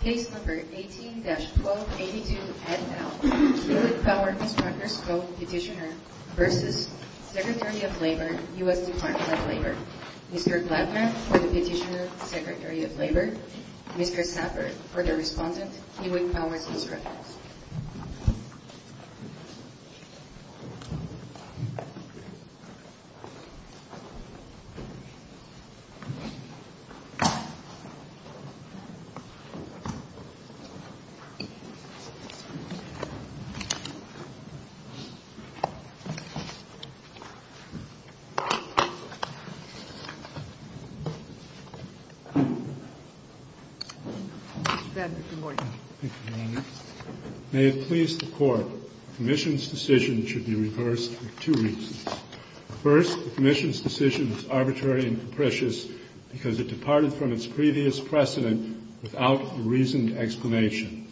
Case No. 18-1282NL Kiewit Power Constructors Co. Petitioner v. Secretary of Labor, U.S. Department of Labor Mr. Gladner for the Petitioner, Secretary of Labor Mr. Sapper for the Respondent, Kiewit Power Constructors May it please the Court, the Commission's decision should be reversed for two reasons. First, the Commission's decision is arbitrary and capricious because it departed from its previous precedent without a reasoned explanation.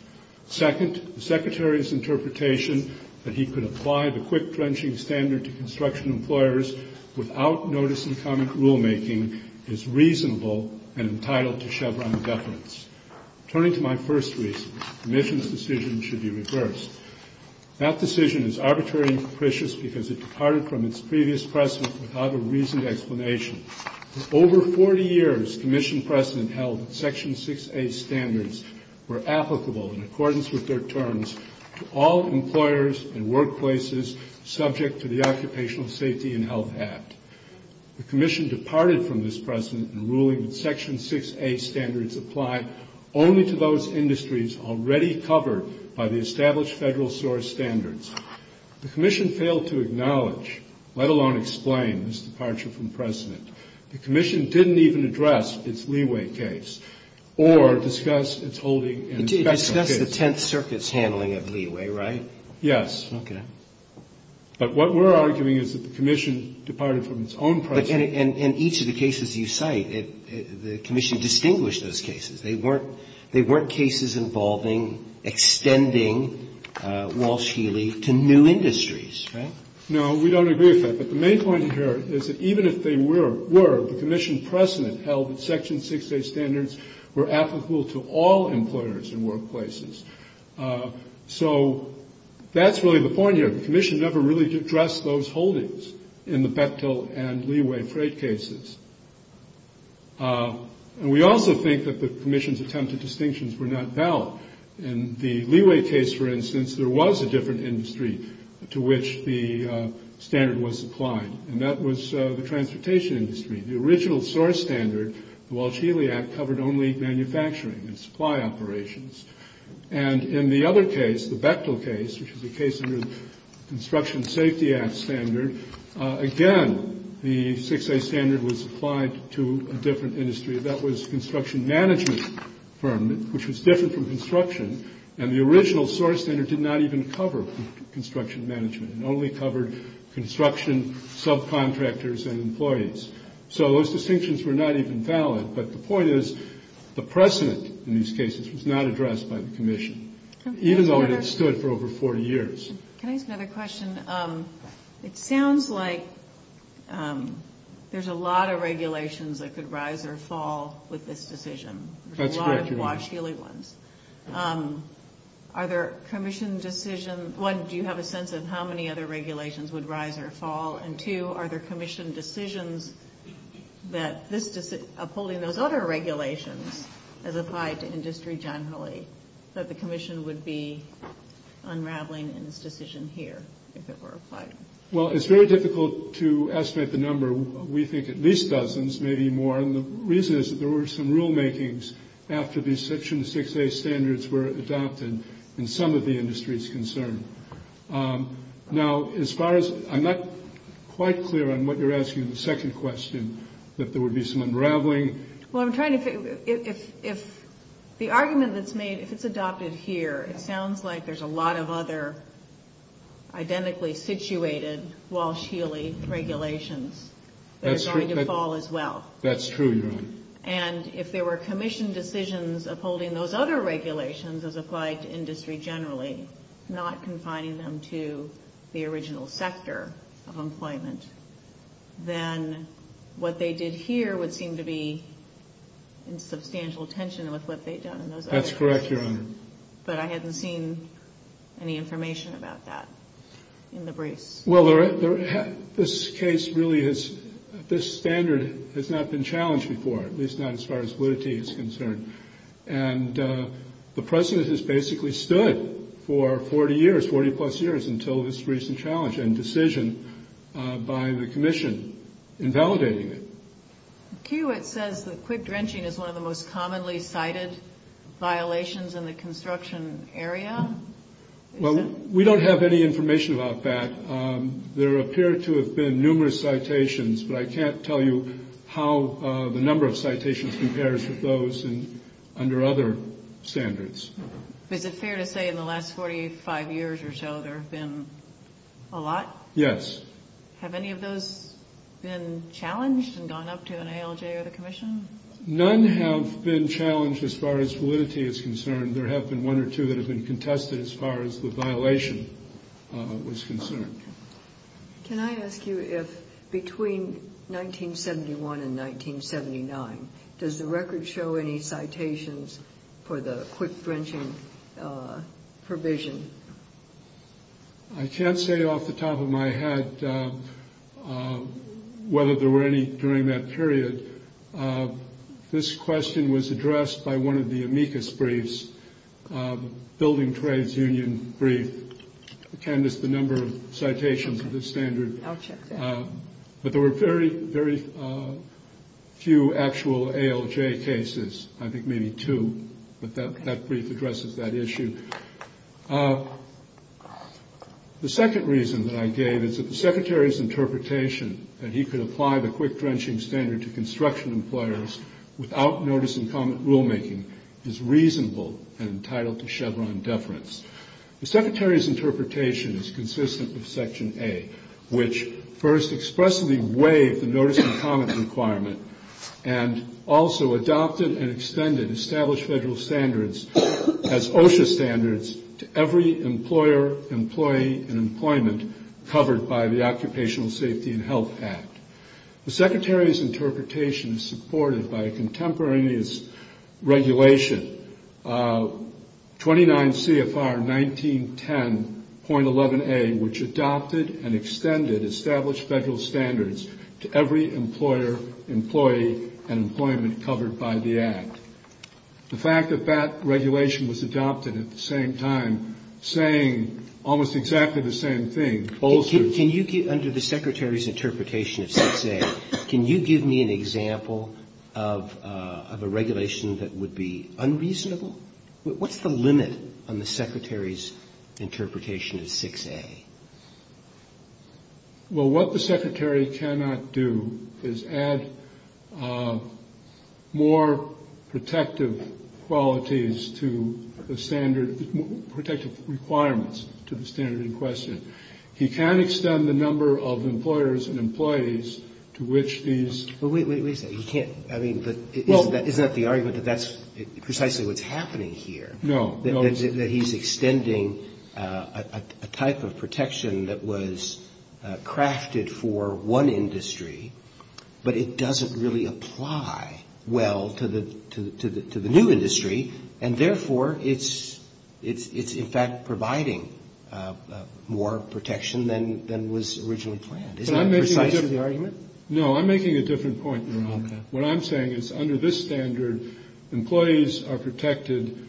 Second, the Secretary's interpretation that he could apply the quick-drenching standard to construction employers without notice and comment rulemaking is reasonable and entitled to Chevron deference. Turning to my first reason, the Commission's decision should be reversed. That decision is arbitrary and capricious because it departed from its previous precedent without a reasoned explanation. Over 40 years, Commission precedent held that Section 6A standards were applicable in accordance with their terms to all employers and workplaces subject to the Occupational Safety and Health Act. The Commission departed from this precedent in ruling that Section 6A standards apply only to those industries already covered by the established Federal source standards. The Commission failed to acknowledge, let alone explain, this departure from precedent. The Commission didn't even address its leeway case or discuss its holding and inspection case. It discussed the Tenth Circuit's handling of leeway, right? Yes. Okay. But what we're arguing is that the Commission departed from its own precedent. But in each of the cases you cite, the Commission distinguished those cases. They weren't cases involving extending Walsh-Healy to new industries, right? No, we don't agree with that. But the main point here is that even if they were, the Commission precedent held that Section 6A standards were applicable to all employers and workplaces. So that's really the point here. The Commission never really addressed those holdings in the Bechtel and leeway freight cases. And we also think that the Commission's attempted distinctions were not valid. In the leeway case, for instance, there was a different industry to which the standard was applied, and that was the transportation industry. The original source standard, the Walsh-Healy Act, covered only manufacturing and supply operations. And in the other case, the Bechtel case, which is a case under the Construction Safety Act standard, again, the 6A standard was applied to a different industry. That was a construction management firm, which was different from construction. And the original source standard did not even cover construction management. It only covered construction subcontractors and employees. So those distinctions were not even valid. But the point is, the precedent in these cases was not addressed by the Commission, even though it had stood for over 40 years. Can I ask another question? It sounds like there's a lot of regulations that could rise or fall with this decision. That's correct, Your Honor. The Walsh-Healy ones. Are there Commission decisions? One, do you have a sense of how many other regulations would rise or fall? And two, are there Commission decisions that upholding those other regulations as applied to industry generally, that the Commission would be unraveling in this decision here if it were applied? Well, it's very difficult to estimate the number. We think at least dozens, maybe more. And the reason is that there were some rulemakings after these Section 6A standards were adopted in some of the industries concerned. Now, as far as – I'm not quite clear on what you're asking in the second question, that there would be some unraveling. Well, I'm trying to figure – if the argument that's made, if it's adopted here, it sounds like there's a lot of other identically situated Walsh-Healy regulations that are going to fall as well. That's true, Your Honor. And if there were Commission decisions upholding those other regulations as applied to industry generally, not confining them to the original sector of employment, then what they did here would seem to be in substantial tension with what they've done in those other areas. That's correct, Your Honor. But I hadn't seen any information about that in the briefs. Well, this case really is – this standard has not been challenged before, at least not as far as validity is concerned. And the precedent has basically stood for 40 years, 40-plus years, until this recent challenge and decision by the Commission invalidating it. It says that quick drenching is one of the most commonly cited violations in the construction area. Well, we don't have any information about that. There appear to have been numerous citations, but I can't tell you how the number of citations compares with those under other standards. Is it fair to say in the last 45 years or so there have been a lot? Yes. Have any of those been challenged and gone up to an ALJ or the Commission? None have been challenged as far as validity is concerned. There have been one or two that have been contested as far as the violation was concerned. Can I ask you if between 1971 and 1979, does the record show any citations for the quick drenching provision? I can't say off the top of my head whether there were any during that period. This question was addressed by one of the amicus briefs, Building Trades Union brief. It canvassed the number of citations of this standard. I'll check that. But there were very, very few actual ALJ cases. I think maybe two, but that brief addresses that issue. The second reason that I gave is that the Secretary's interpretation that he could apply the quick drenching standard to construction employers without notice and comment rulemaking is reasonable and entitled to Chevron deference. The Secretary's interpretation is consistent with Section A, which first expressly waived the notice and comment requirement and also adopted and extended established federal standards as OSHA standards to every employer, employee, and employment covered by the Occupational Safety and Health Act. The Secretary's interpretation is supported by a contemporaneous regulation, 29 CFR 1910.11a, which adopted and extended established federal standards to every employer, employee, and employment covered by the Act. The fact that that regulation was adopted at the same time saying almost exactly the same thing. Can you, under the Secretary's interpretation of 6A, can you give me an example of a regulation that would be unreasonable? What's the limit on the Secretary's interpretation of 6A? Well, what the Secretary cannot do is add more protective qualities to the standard or protective requirements to the standard in question. He can't extend the number of employers and employees to which these. Well, wait a second. You can't. I mean, but isn't that the argument that that's precisely what's happening here? No. That he's extending a type of protection that was crafted for one industry, but it doesn't really apply well to the new industry, and therefore it's in fact providing more protection than was originally planned. Isn't that precisely the argument? No. I'm making a different point here. Okay. What I'm saying is under this standard, employees are protected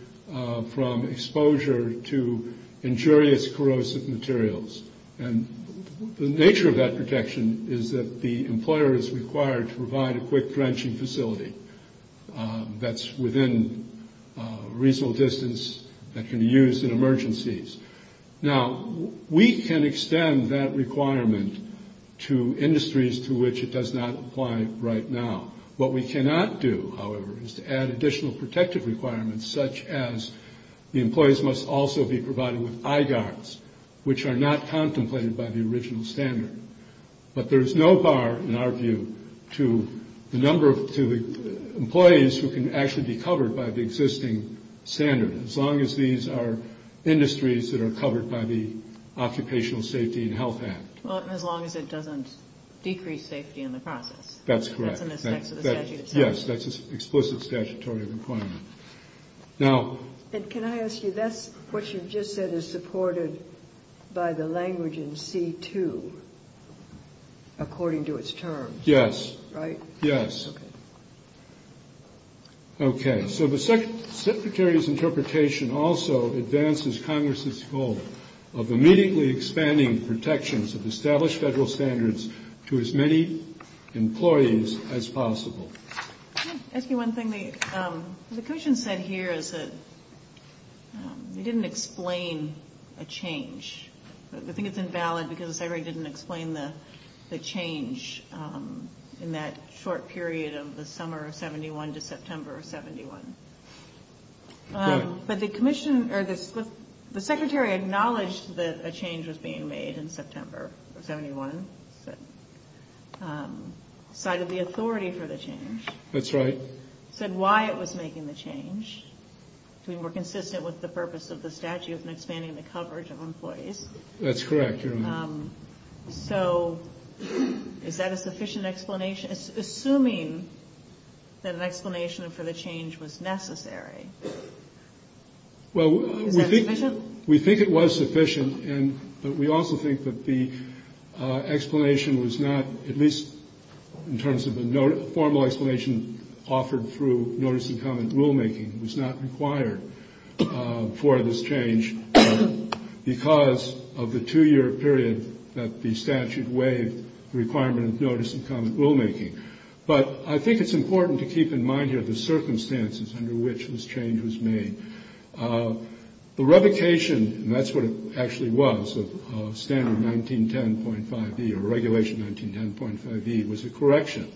from exposure to injurious corrosive materials, and the nature of that protection is that the employer is required to provide a quick drenching facility that's within a reasonable distance that can be used in emergencies. Now, we can extend that requirement to industries to which it does not apply right now. What we cannot do, however, is to add additional protective requirements, such as the employees must also be provided with eye guards, which are not contemplated by the original standard. But there is no bar, in our view, to the number of employees who can actually be covered by the existing standard. As long as these are industries that are covered by the Occupational Safety and Health Act. Well, and as long as it doesn't decrease safety in the process. That's correct. That's in respect to the statute itself. Yes. That's an explicit statutory requirement. Now. And can I ask you, that's what you just said is supported by the language in C2, according to its terms. Yes. Right? Yes. Okay. So the Secretary's interpretation also advances Congress's goal of immediately expanding protections of established federal standards to as many employees as possible. Can I ask you one thing? The commission said here is that they didn't explain a change. I think it's invalid because the Secretary didn't explain the change in that short period of the summer of 71 to September of 72. Right. But the commission or the Secretary acknowledged that a change was being made in September of 71. Decided the authority for the change. That's right. Said why it was making the change. To be more consistent with the purpose of the statute and expanding the coverage of employees. That's correct. You're right. So is that a sufficient explanation, assuming that an explanation for the change was necessary? Well, we think it was sufficient, but we also think that the explanation was not, at least in terms of the formal explanation offered through notice and comment rulemaking, was not required for this change because of the two-year period that the statute waived the requirement of notice and comment rulemaking. But I think it's important to keep in mind here the circumstances under which this change was made. The revocation, and that's what it actually was, of standard 1910.5e or regulation 1910.5e, was a correction,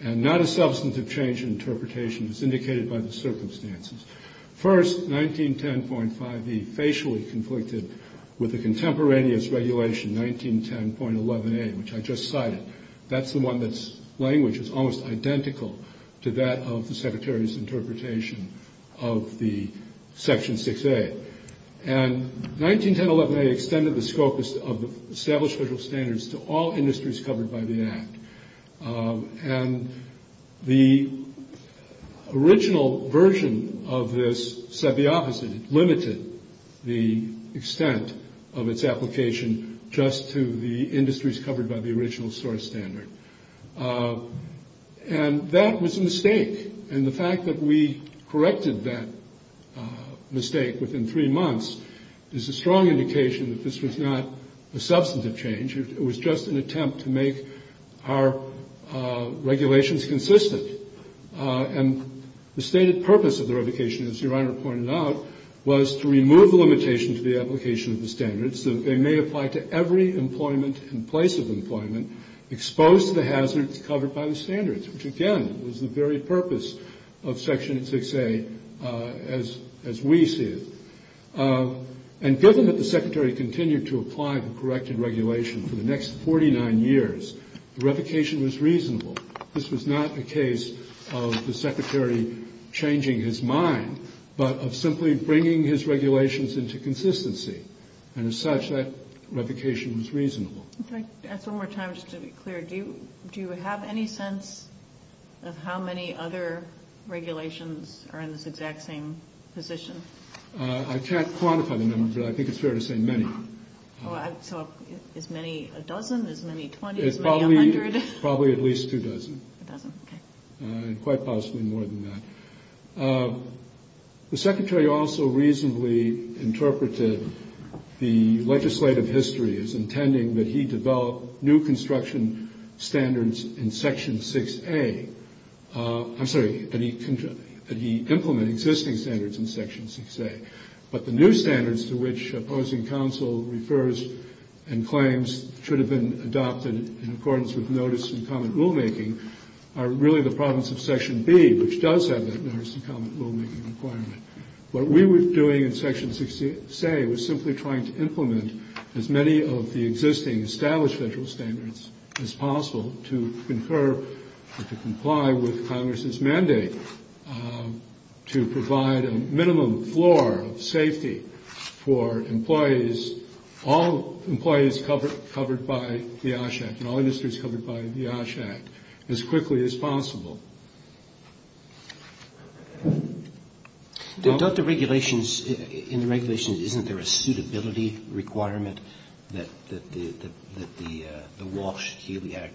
and not a substantive change in interpretation as indicated by the circumstances. First, 1910.5e facially conflicted with the contemporaneous regulation 1910.11a, which I just cited. That's the one that's language is almost identical to that of the Secretary's interpretation of the section 6a. And 1910.11a extended the scope of the established federal standards to all industries covered by the Act. And the original version of this said the opposite. It limited the extent of its application just to the industries covered by the original source standard. And that was a mistake. And the fact that we corrected that mistake within three months is a strong indication that this was not a substantive change. It was just an attempt to make our regulations consistent. And the stated purpose of the revocation, as Your Honor pointed out, was to remove the limitation to the application of the standards, that they may apply to every employment and place of employment exposed to the hazards covered by the standards, which, again, was the very purpose of section 6a as we see it. And given that the Secretary continued to apply the corrected regulation for the next 49 years, the revocation was reasonable. This was not a case of the Secretary changing his mind, but of simply bringing his regulations into consistency. And as such, that revocation was reasonable. Can I ask one more time just to be clear? Do you have any sense of how many other regulations are in this exact same position? I can't quantify the number, but I think it's fair to say many. So as many a dozen, as many 20, as many 100? Probably at least two dozen. A dozen, okay. And quite possibly more than that. The Secretary also reasonably interpreted the legislative history as intending that he develop new construction standards in section 6a. I'm sorry, that he implement existing standards in section 6a. But the new standards to which opposing counsel refers and claims should have been adopted in accordance with notice and common rulemaking are really the province of section B, which does have that notice and common rulemaking requirement. What we were doing in section 6a was simply trying to implement as many of the existing established federal standards as possible to confer or to comply with Congress's mandate to provide a minimum floor of safety for employees, all employees covered by the OSH Act and all industries covered by the OSH Act, as quickly as possible. Don't the regulations, in the regulations, isn't there a suitability requirement that the Walsh-Healy Act,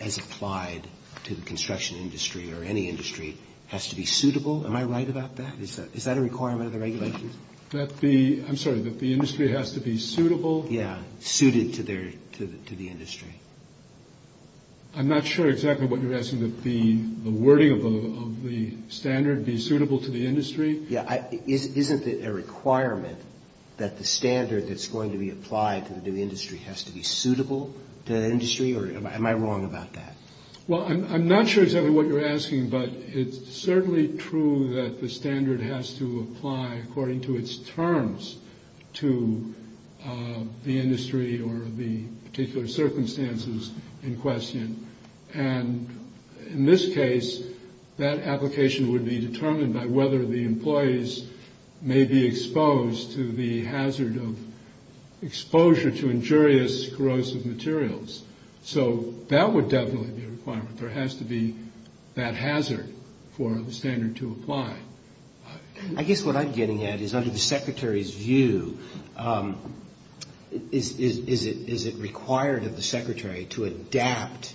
as applied to the construction industry or any industry, has to be suitable? Am I right about that? Is that a requirement of the regulations? I'm sorry, that the industry has to be suitable? Yes, suited to the industry. I'm not sure exactly what you're asking, that the wording of the standard be suitable to the industry? Yes. Isn't it a requirement that the standard that's going to be applied to the new industry has to be suitable to the industry? Or am I wrong about that? Well, I'm not sure exactly what you're asking, but it's certainly true that the standard has to apply according to its terms to the industry or the particular circumstances in question. And in this case, that application would be determined by whether the employees may be exposed to the hazard of exposure to injurious corrosive materials. So that would definitely be a requirement. There has to be that hazard for the standard to apply. I guess what I'm getting at is under the Secretary's view, is it required of the Secretary to adapt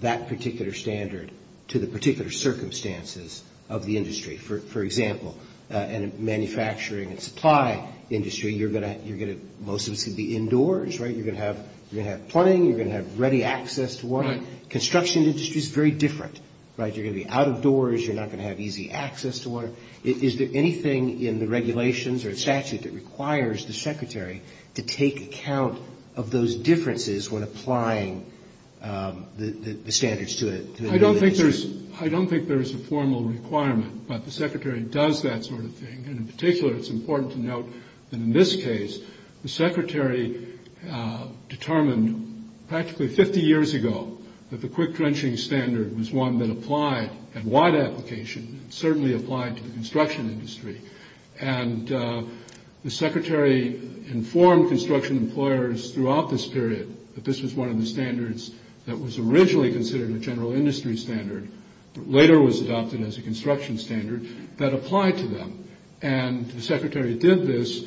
that particular standard to the particular circumstances of the industry? For example, in the manufacturing and supply industry, most of it's going to be indoors, right? You're going to have plumbing. You're going to have ready access to water. Construction industry is very different, right? You're going to be out of doors. You're not going to have easy access to water. Is there anything in the regulations or statute that requires the Secretary to take account of those differences when applying the standards to it? I don't think there's a formal requirement, but the Secretary does that sort of thing. And in particular, it's important to note that in this case, the Secretary determined practically 50 years ago that the quick drenching standard was one that applied at wide application, and certainly applied to the construction industry. And the Secretary informed construction employers throughout this period that this was one of the standards that was originally considered a general industry standard, but later was adopted as a construction standard, that applied to them. And the Secretary did this,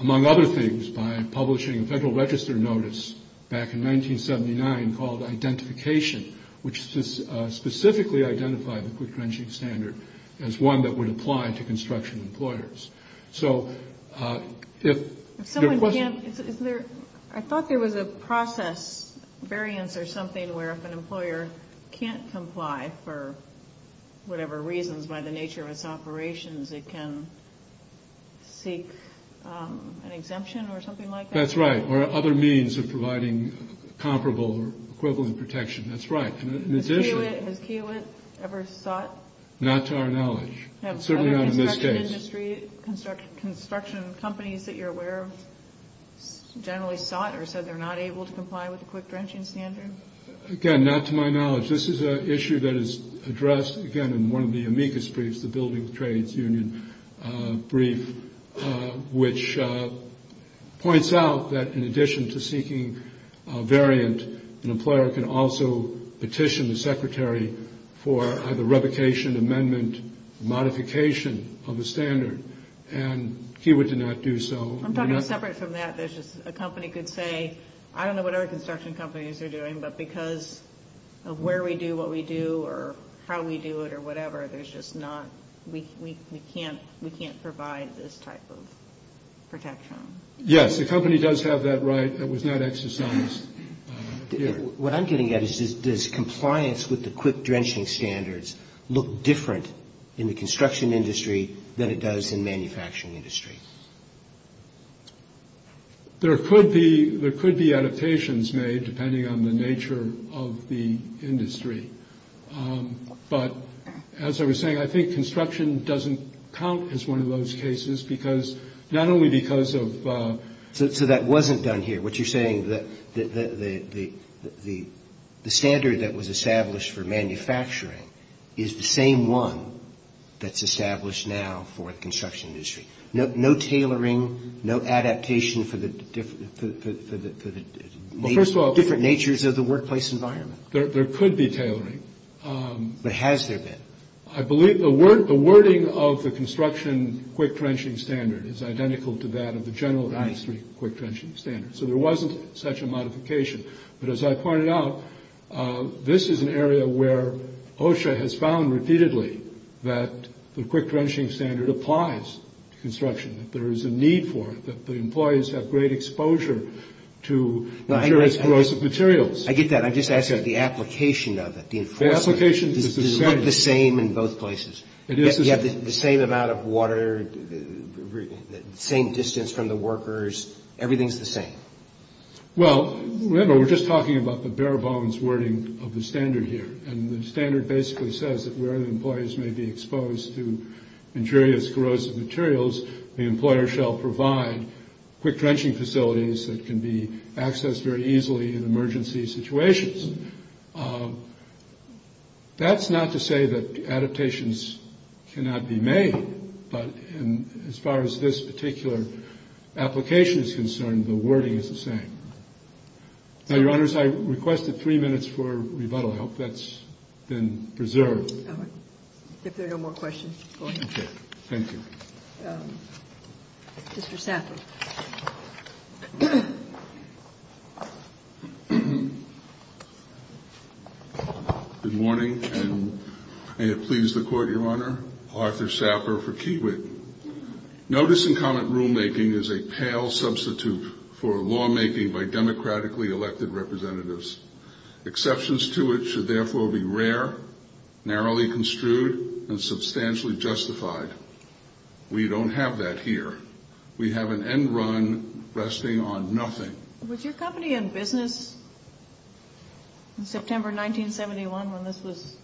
among other things, by publishing a Federal Register notice back in 1979 called Identification, which specifically identified the quick drenching standard as one that would apply to construction employers. I thought there was a process variance or something where if an employer can't comply for whatever reasons by the nature of its operations, it can seek an exemption or something like that? That's right, or other means of providing comparable or equivalent protection. That's right. Has Kiewit ever sought? Not to our knowledge. Certainly not in this case. Have other construction companies that you're aware of generally sought or said they're not able to comply with the quick drenching standard? Again, not to my knowledge. This is an issue that is addressed, again, in one of the amicus briefs, the Building Trades Union brief, which points out that in addition to seeking a variant, an employer can also petition the Secretary for either revocation, amendment, modification of the standard. And Kiewit did not do so. I'm talking separate from that. A company could say, I don't know what other construction companies are doing, but because of where we do what we do or how we do it or whatever, we can't provide this type of protection. Yes, the company does have that right. It was not exercised. What I'm getting at is does compliance with the quick drenching standards look different in the construction industry than it does in manufacturing industry? There could be adaptations made depending on the nature of the industry. But as I was saying, I think construction doesn't count as one of those cases because not only because of so that wasn't done here, what you're saying, the standard that was established for manufacturing is the same one that's established now for the construction industry. No tailoring, no adaptation for the different natures of the workplace environment. There could be tailoring. But has there been? I believe the wording of the construction quick drenching standard is identical to that of the general industry quick drenching standard. So there wasn't such a modification. But as I pointed out, this is an area where OSHA has found repeatedly that the quick drenching standard applies to construction, that there is a need for it, that the employees have great exposure to materials, corrosive materials. I get that. I'm just asking the application of it, the enforcement. The application is the same. It is the same. You have the same amount of water, the same distance from the workers. Everything's the same. Well, remember, we're just talking about the bare bones wording of the standard here. And the standard basically says that where the employees may be exposed to injurious, corrosive materials, the employer shall provide quick drenching facilities that can be accessed very easily in emergency situations. That's not to say that adaptations cannot be made. But as far as this particular application is concerned, the wording is the same. Now, Your Honors, I requested three minutes for rebuttal. I hope that's been preserved. All right. If there are no more questions, go ahead. Thank you. Mr. Saffer. Good morning, and may it please the Court, Your Honor. Arthur Saffer for Kiewit. Notice and comment rulemaking is a pale substitute for lawmaking by democratically elected representatives. Exceptions to it should therefore be rare, narrowly construed, and substantially justified. We don't have that here. We have an end run resting on nothing. Was your company in business in September 1971 when this was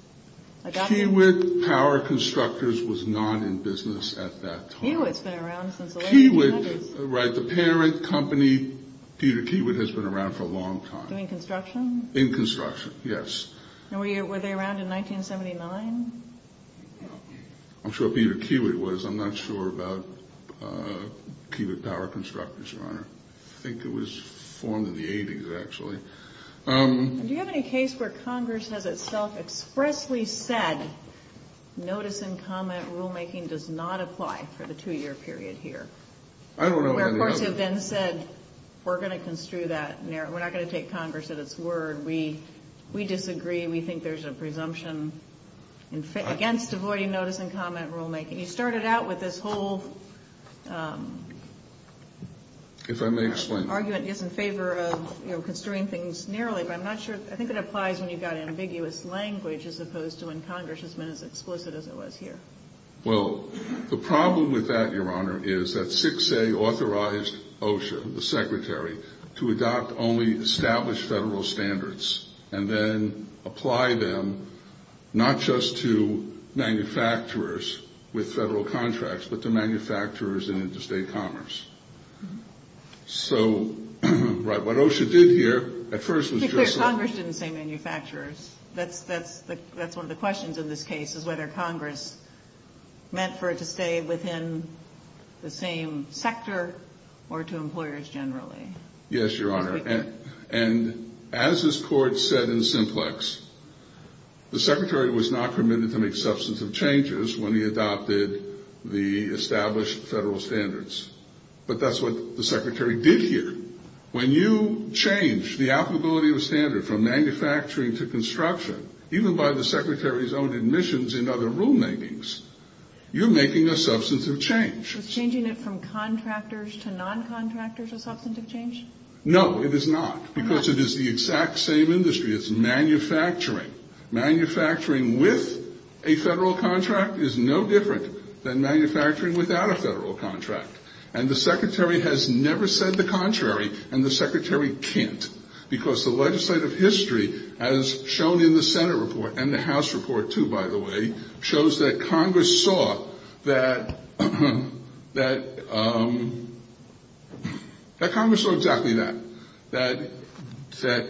adopted? Kiewit Power Constructors was not in business at that time. Kiewit's been around since the late 1900s. Right. The parent company, Peter Kiewit, has been around for a long time. In construction? In construction, yes. And were they around in 1979? I'm sure Peter Kiewit was. I'm not sure about Kiewit Power Constructors, Your Honor. I think it was formed in the 80s, actually. Do you have any case where Congress has itself expressly said, notice and comment rulemaking does not apply for the two-year period here? I don't know of any other. Where courts have then said, we're going to construe that. We're not going to take Congress at its word. We disagree. We think there's a presumption against avoiding notice and comment rulemaking. You started out with this whole argument in favor of construing things narrowly, but I'm not sure. I think it applies when you've got ambiguous language, as opposed to when Congress has been as explicit as it was here. Well, the problem with that, Your Honor, is that 6A authorized OSHA, the Secretary, to adopt only established federal standards and then apply them not just to manufacturers with federal contracts, but to manufacturers in interstate commerce. So, right, what OSHA did here at first was just... It's clear Congress didn't say manufacturers. That's one of the questions in this case, is whether Congress meant for it to stay within the same sector or to employers generally. Yes, Your Honor. And as this Court said in simplex, the Secretary was not permitted to make substantive changes when he adopted the established federal standards. But that's what the Secretary did here. When you change the applicability of a standard from manufacturing to construction, even by the Secretary's own admissions in other rulemakings, you're making a substantive change. Was changing it from contractors to noncontractors a substantive change? No, it is not, because it is the exact same industry. It's manufacturing. Manufacturing with a federal contract is no different than manufacturing without a federal contract. And the Secretary has never said the contrary, and the Secretary can't, because the legislative history, as shown in the Senate report, and the House report, too, by the way, shows that Congress saw that Congress saw exactly that, that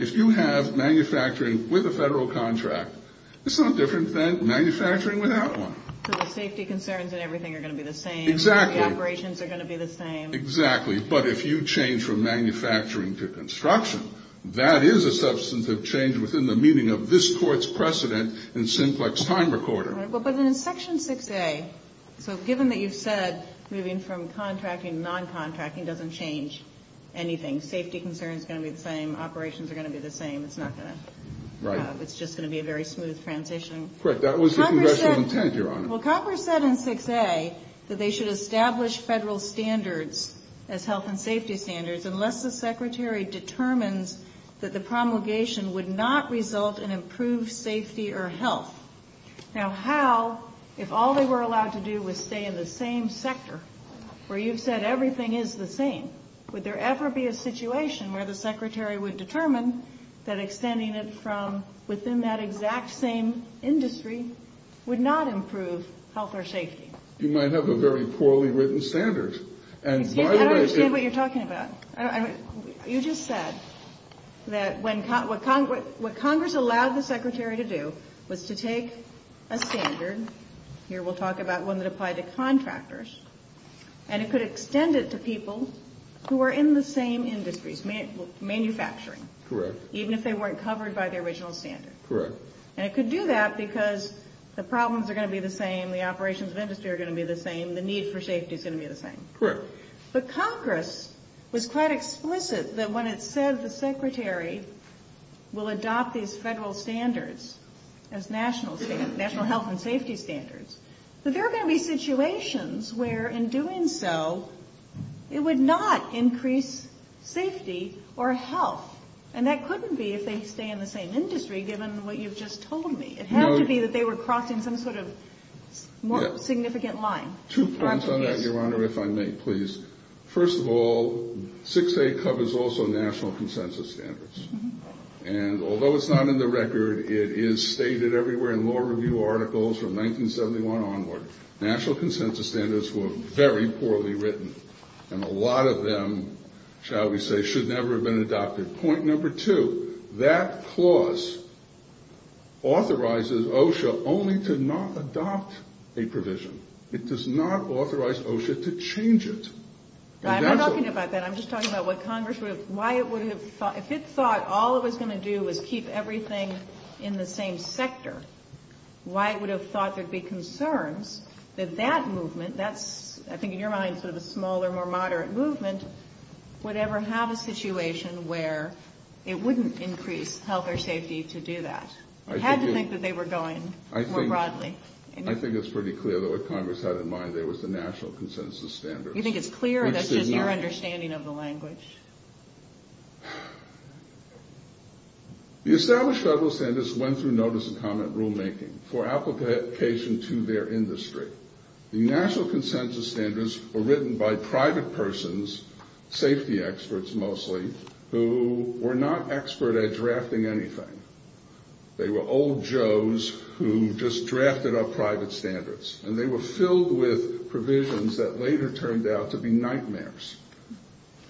if you have manufacturing with a federal contract, it's no different than manufacturing without one. So the safety concerns and everything are going to be the same. Exactly. The operations are going to be the same. Exactly. But if you change from manufacturing to construction, that is a substantive change within the meaning of this Court's precedent and simplex time recorder. Right. But then in Section 6A, so given that you've said moving from contracting to noncontracting doesn't change anything, safety concerns are going to be the same, operations are going to be the same, it's not going to. Right. It's just going to be a very smooth transition. Correct. That was the Congressional intent, Your Honor. Congress said in 6A that they should establish federal standards as health and safety standards unless the Secretary determines that the promulgation would not result in improved safety or health. Now how, if all they were allowed to do was stay in the same sector, where you've said everything is the same, would there ever be a situation where the Secretary would determine that extending it from within that exact same industry would not improve health or safety? You might have a very poorly written standard. I don't understand what you're talking about. You just said that what Congress allowed the Secretary to do was to take a standard, here we'll talk about one that applied to contractors, and it could extend it to people who are in the same industries, manufacturing. Correct. Even if they weren't covered by the original standard. Correct. And it could do that because the problems are going to be the same, the operations of industry are going to be the same, the need for safety is going to be the same. Correct. But Congress was quite explicit that when it said the Secretary will adopt these federal standards as national health and safety standards, that there are going to be situations where, in doing so, it would not increase safety or health. And that couldn't be if they stay in the same industry, given what you've just told me. It had to be that they were crossing some sort of more significant line. Two points on that, Your Honor, if I may, please. First of all, 6A covers also national consensus standards. And although it's not in the record, it is stated everywhere in law review articles from 1971 onward, national consensus standards were very poorly written. And a lot of them, shall we say, should never have been adopted. Point number two, that clause authorizes OSHA only to not adopt a provision. It does not authorize OSHA to change it. I'm not talking about that. I'm just talking about what Congress would have, why it would have thought, if it thought all it was going to do was keep everything in the same sector, why it would have thought there would be concerns that that movement, that's, I think in your mind, sort of a smaller, more moderate movement, would ever have a situation where it wouldn't increase health or safety to do that. It had to think that they were going more broadly. I think it's pretty clear that what Congress had in mind there was the national consensus standards. You think it's clear, or that's just your understanding of the language? The established federal standards went through notice and comment rulemaking for application to their industry. The national consensus standards were written by private persons, safety experts mostly, who were not expert at drafting anything. They were old Joes who just drafted up private standards, and they were filled with provisions that later turned out to be nightmares.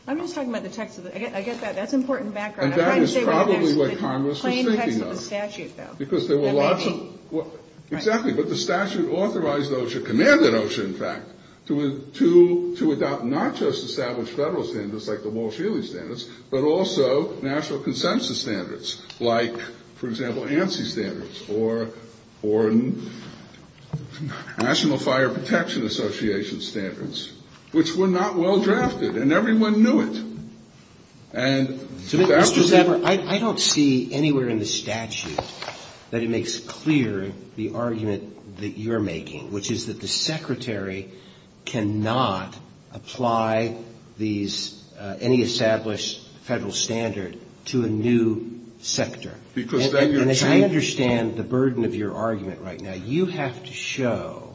I'm just talking about the text of it. I get that. That's important background. And that is probably what Congress was thinking of. Plain text of the statute, though. Because there were lots of, exactly, but the statute authorized OSHA, commanded OSHA in fact, to adopt not just established federal standards, like the Moore-Shealy standards, but also national consensus standards, like, for example, ANSI standards, or National Fire Protection Association standards, which were not well-drafted, and everyone knew it. Mr. Zapper, I don't see anywhere in the statute that it makes clear the argument that you're making, which is that the Secretary cannot apply these, any established federal standard to a new sector. And as I understand the burden of your argument right now, you have to show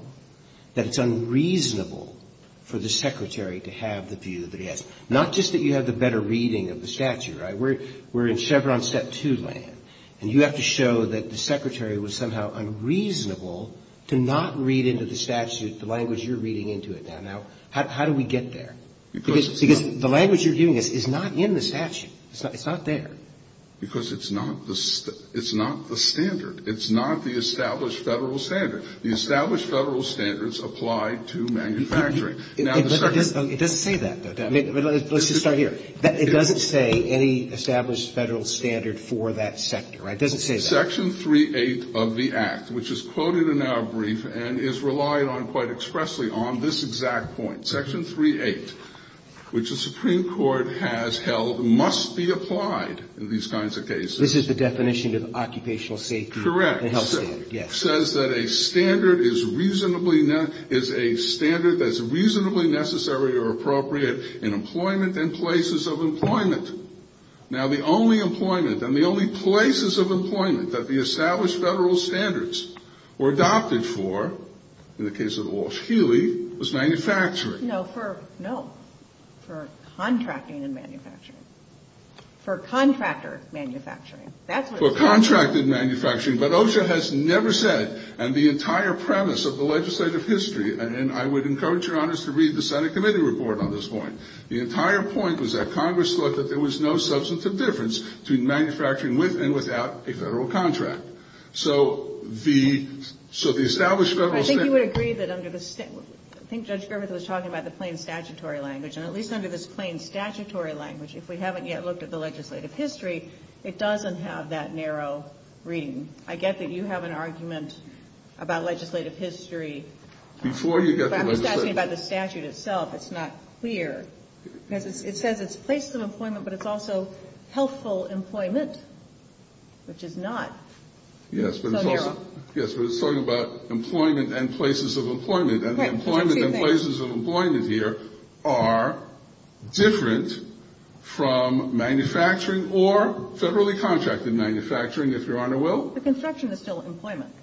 that it's unreasonable for the Secretary to have the view that he has. Not just that you have the better reading of the statute. We're in Chevron Step 2 land, and you have to show that the Secretary was somehow unreasonable to not read into the statute the language you're reading into it now. How do we get there? Because the language you're giving us is not in the statute. It's not there. Because it's not the standard. It's not the established federal standard. The established federal standards apply to manufacturing. It doesn't say that, though. Let's just start here. It doesn't say any established federal standard for that sector, right? It doesn't say that. Section 3-8 of the Act, which is quoted in our brief and is relied on quite expressly on this exact point. Section 3-8, which the Supreme Court has held must be applied in these kinds of cases. This is the definition of occupational safety. Correct. Yes. It says that a standard is a standard that's reasonably necessary or appropriate in employment and places of employment. Now, the only employment and the only places of employment that the established federal standards were adopted for, in the case of the Walsh-Healy, was manufacturing. No. For contracting and manufacturing. For contractor manufacturing. For contracted manufacturing. But OSHA has never said, and the entire premise of the legislative history, and I would encourage Your Honors to read the Senate Committee Report on this point, the entire point was that Congress thought that there was no substantive difference between manufacturing with and without a federal contract. So the established federal standards... I think you would agree that under the... I think Judge Griffith was talking about the plain statutory language, and at least under this plain statutory language, if we haven't yet looked at the legislative history, it doesn't have that narrow reading. I get that you have an argument about legislative history... Before you get to legislative history... But I'm just asking about the statute itself. It's not clear. It says it's places of employment, but it's also healthful employment, which is not so narrow. Yes, but it's talking about employment and places of employment, and the employment and places of employment here are different from manufacturing or federally contracted manufacturing, if Your Honor will. But construction is still employment.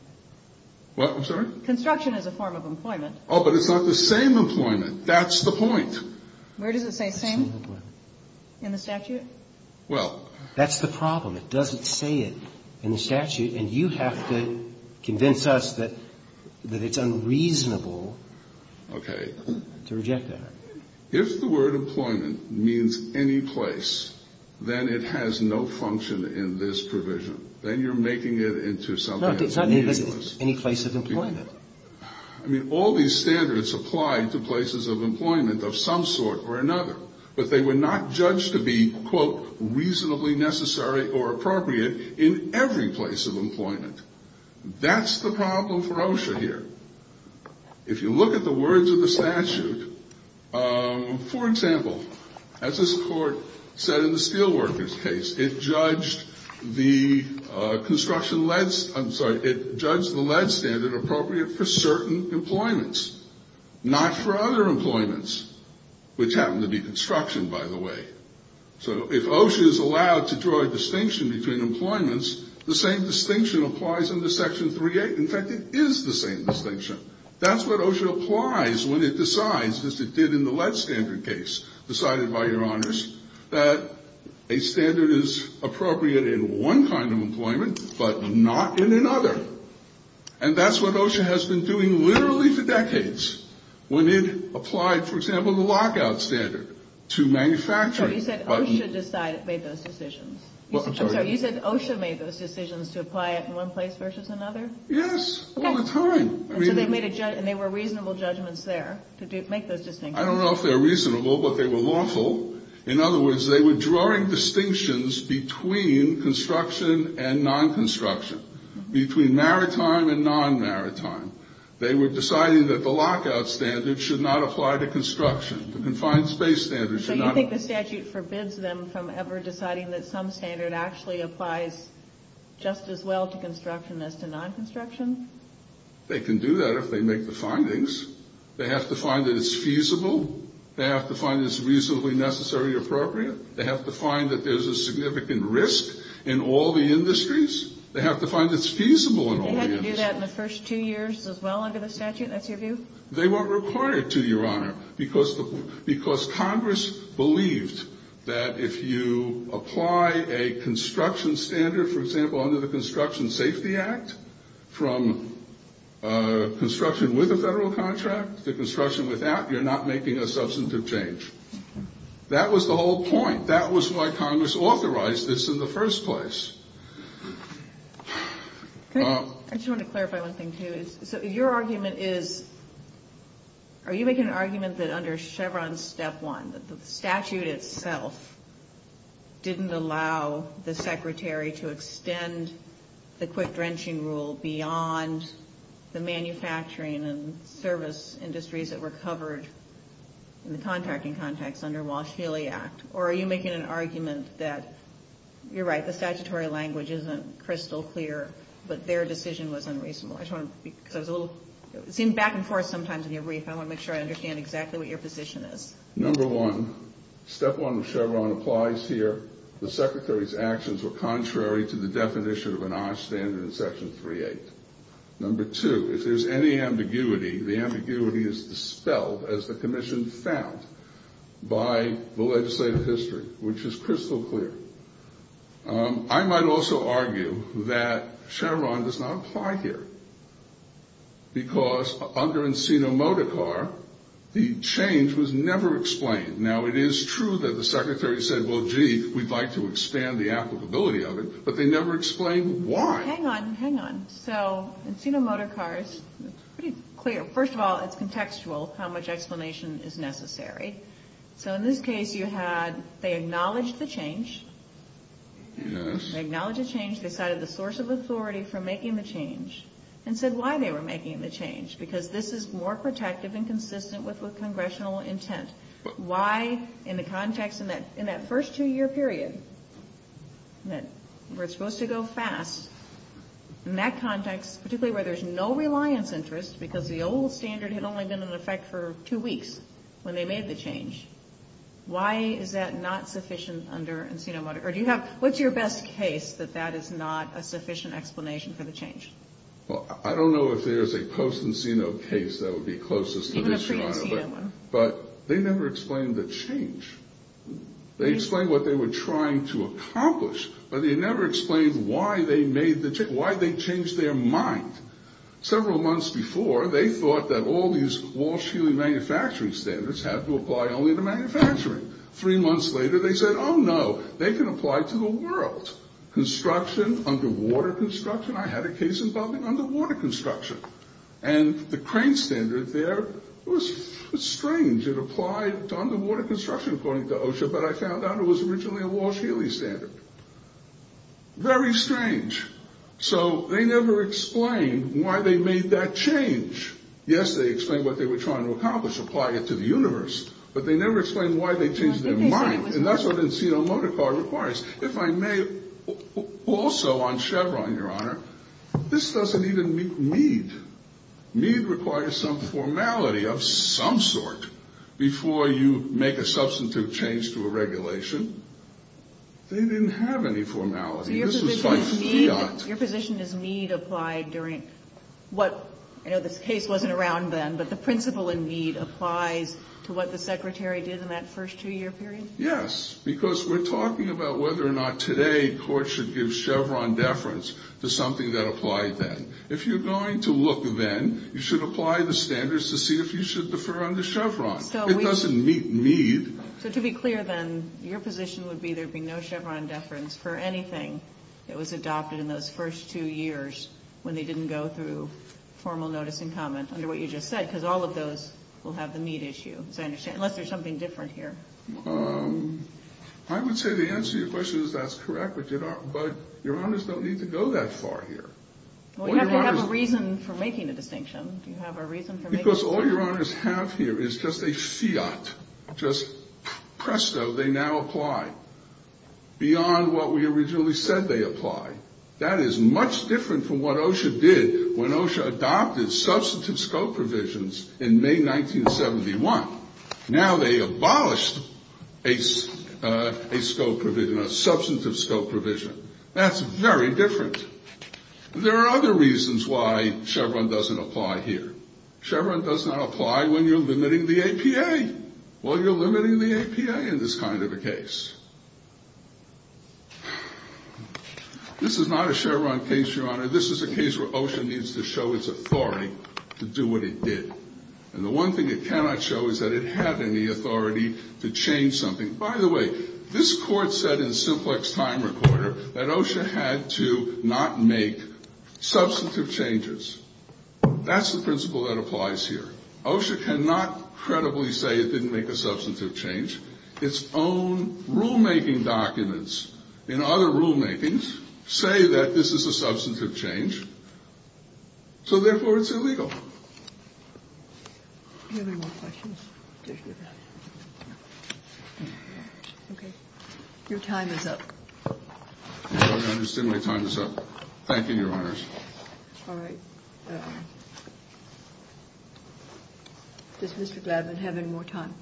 What? I'm sorry? Construction is a form of employment. Oh, but it's not the same employment. That's the point. Where does it say same? In the statute? Well... That's the problem. It doesn't say it in the statute, and you have to convince us that it's unreasonable... Okay. ...to reject that. If the word employment means any place, then it has no function in this provision. Then you're making it into something... No, it's not any place of employment. I mean, all these standards apply to places of employment of some sort or another, but they were not judged to be, quote, reasonably necessary or appropriate in every place of employment. That's the problem for OSHA here. If you look at the words of the statute, for example, as this court said in the steelworkers case, it judged the construction led... I'm sorry. It judged the led standard appropriate for certain employments, not for other employments, which happened to be construction, by the way. So if OSHA is allowed to draw a distinction between employments, the same distinction applies under Section 3A. In fact, it is the same distinction. That's what OSHA applies when it decides, as it did in the led standard case decided by your honors, that a standard is appropriate in one kind of employment, but not in another. And that's what OSHA has been doing literally for decades. When it applied, for example, the lockout standard to manufacturing... So you said OSHA made those decisions? I'm sorry. You said OSHA made those decisions to apply it in one place versus another? Yes, all the time. And they were reasonable judgments there to make those distinctions? I don't know if they were reasonable, but they were lawful. In other words, they were drawing distinctions between construction and non-construction, between maritime and non-maritime. They were deciding that the lockout standard should not apply to construction. The confined space standard should not apply. So you think the statute forbids them from ever deciding that some standard actually applies just as well to construction as to non-construction? They can do that if they make the findings. They have to find that it's feasible. They have to find it's reasonably necessary or appropriate. They have to find that there's a significant risk in all the industries. They have to find it's feasible in all the industries. Did they have to do that in the first two years as well under the statute? That's your view? They weren't required to, Your Honor, because Congress believed that if you apply a construction standard, for example, under the Construction Safety Act, from construction with a federal contract to construction without, you're not making a substantive change. That was the whole point. That was why Congress authorized this in the first place. I just want to clarify one thing, too. So your argument is, are you making an argument that under Chevron's step one, that the statute itself didn't allow the secretary to extend the quick drenching rule beyond the manufacturing and service industries that were covered in the contracting context under Walsh-Feeley Act, or are you making an argument that, you're right, the statutory language isn't crystal clear, but their decision was unreasonable? It seemed back and forth sometimes in your brief. I want to make sure I understand exactly what your position is. Number one, step one of Chevron applies here. The secretary's actions were contrary to the definition of an OSH standard in Section 3A. Number two, if there's any ambiguity, the ambiguity is dispelled as the commission found by the legislative history, which is crystal clear. I might also argue that Chevron does not apply here, because under Encino Motor Car, the change was never explained. Now, it is true that the secretary said, well, gee, we'd like to expand the applicability of it, but they never explained why. Hang on, hang on. So Encino Motor Car is pretty clear. First of all, it's contextual, how much explanation is necessary. So in this case, you had, they acknowledged the change. They acknowledged the change. They cited the source of authority for making the change, and said why they were making the change, because this is more protective and consistent with congressional intent. Why, in the context in that first two-year period, where it's supposed to go fast, in that context, particularly where there's no reliance interest, because the old standard had only been in effect for two weeks, when they made the change. Why is that not sufficient under Encino Motor? Or do you have, what's your best case that that is not a sufficient explanation for the change? Well, I don't know if there's a post-Encino case that would be closest to this. Even a pre-Encino one. But they never explained the change. They explained what they were trying to accomplish, but they never explained why they made the change, why they changed their mind. Several months before, they thought that all these Walsh-Healy manufacturing standards had to apply only to manufacturing. Three months later, they said, oh, no, they can apply to the world. Construction, underwater construction, I had a case involving underwater construction. And the crane standard there was strange. It applied to underwater construction, according to OSHA, but I found out it was originally a Walsh-Healy standard. Very strange. So they never explained why they made that change. Yes, they explained what they were trying to accomplish, apply it to the universe, but they never explained why they changed their mind. And that's what Encino Motor Car requires. If I may, also on Chevron, Your Honor, this doesn't even meet MEED. MEED requires some formality of some sort before you make a substitute change to a regulation. They didn't have any formality. This was by fiat. Your position is MEED applied during what, I know this case wasn't around then, but the principle in MEED applies to what the Secretary did in that first two-year period? Yes, because we're talking about whether or not today court should give Chevron deference to something that applied then. If you're going to look then, you should apply the standards to see if you should defer under Chevron. It doesn't meet MEED. So to be clear then, your position would be that there would be no Chevron deference for anything that was adopted in those first two years when they didn't go through formal notice and comment under what you just said, because all of those will have the MEED issue, as I understand, unless there's something different here. I would say the answer to your question is that's correct, but Your Honors don't need to go that far here. Well, you have to have a reason for making a distinction. Do you have a reason for making a distinction? Because all Your Honors have here is just a fiat, just presto, they now apply beyond what we originally said they apply. That is much different from what OSHA did when OSHA adopted substantive scope provisions in May 1971. Now they abolished a scope provision, a substantive scope provision. That's very different. There are other reasons why Chevron doesn't apply here. Chevron does not apply when you're limiting the APA. Well, you're limiting the APA in this kind of a case. This is not a Chevron case, Your Honor. This is a case where OSHA needs to show its authority to do what it did. And the one thing it cannot show is that it had any authority to change something. By the way, this court said in simplex time recorder that OSHA had to not make substantive changes. That's the principle that applies here. OSHA cannot credibly say it didn't make a substantive change. Its own rulemaking documents in other rulemakings say that this is a substantive change, so therefore it's illegal. Do you have any more questions? Okay. Your time is up. I understand my time is up. Thank you, Your Honors. All right. Does Mr. Glavine have any more time?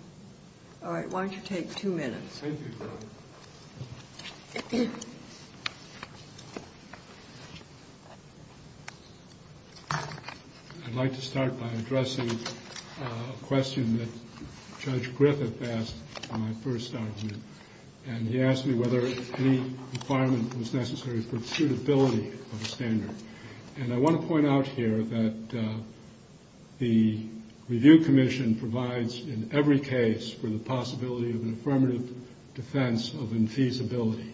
All right. Why don't you take two minutes? Thank you, Your Honor. I'd like to start by addressing a question that Judge Griffith asked in my first argument. And he asked me whether any requirement was necessary for suitability of a standard. And I want to point out here that the review commission provides, in every case, for the possibility of an affirmative defense of infeasibility.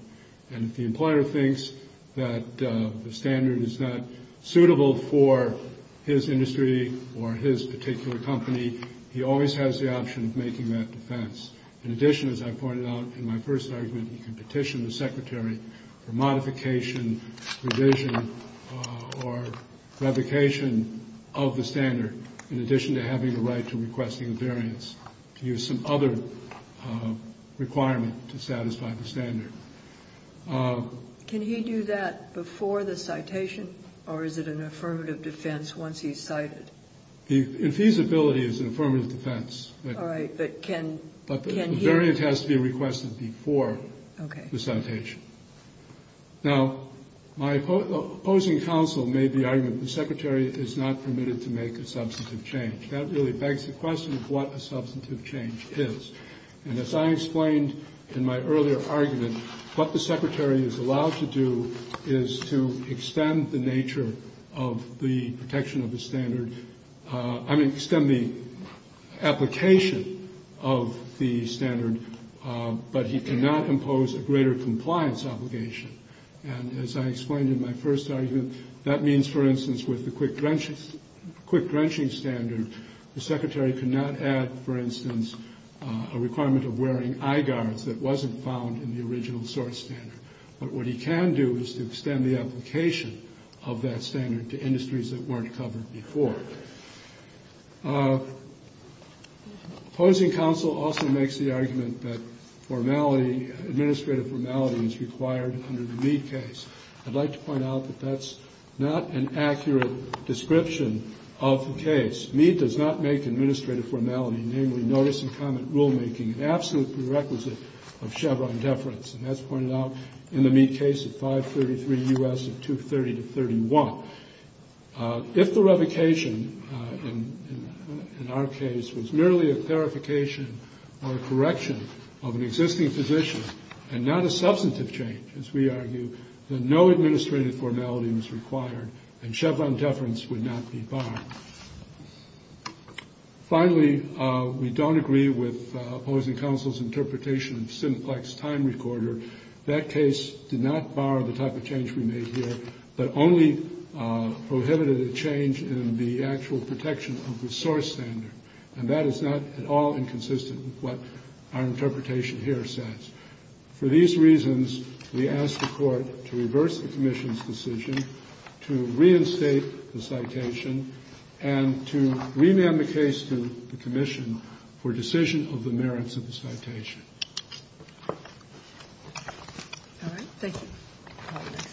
And if the employer thinks that the standard is not suitable for his industry or his particular company, he always has the option of making that defense. In addition, as I pointed out in my first argument, he can petition the secretary for modification, revision, or revocation of the standard, in addition to having the right to requesting a variance, to use some other requirement to satisfy the standard. Can he do that before the citation, or is it an affirmative defense once he's cited? The infeasibility is an affirmative defense. All right. But the variance has to be requested before the citation. Now, my opposing counsel made the argument that the secretary is not permitted to make a substantive change. That really begs the question of what a substantive change is. And as I explained in my earlier argument, what the secretary is allowed to do is to extend the application of the standard, but he cannot impose a greater compliance obligation. And as I explained in my first argument, that means, for instance, with the quick drenching standard, the secretary cannot add, for instance, a requirement of wearing eye guards that wasn't found in the original source standard. But what he can do is to extend the application of that standard to industries that weren't covered before. Opposing counsel also makes the argument that formality, administrative formality, is required under the Mead case. I'd like to point out that that's not an accurate description of the case. Mead does not make administrative formality, namely notice and comment rulemaking, an absolute prerequisite of Chevron deference. And that's pointed out in the Mead case of 533 U.S. of 230 to 31. If the revocation in our case was merely a clarification or a correction of an existing position and not a substantive change, as we argue, then no administrative formality was required and Chevron deference would not be barred. Finally, we don't agree with opposing counsel's interpretation of simplex time recorder. That case did not bar the type of change we made here, but only prohibited a change in the actual protection of the source standard. And that is not at all inconsistent with what our interpretation here says. For these reasons, we ask the Court to reverse the commission's decision to reinstate the citation and to rename the case to the commission for decision of the merits of the citation. Thank you.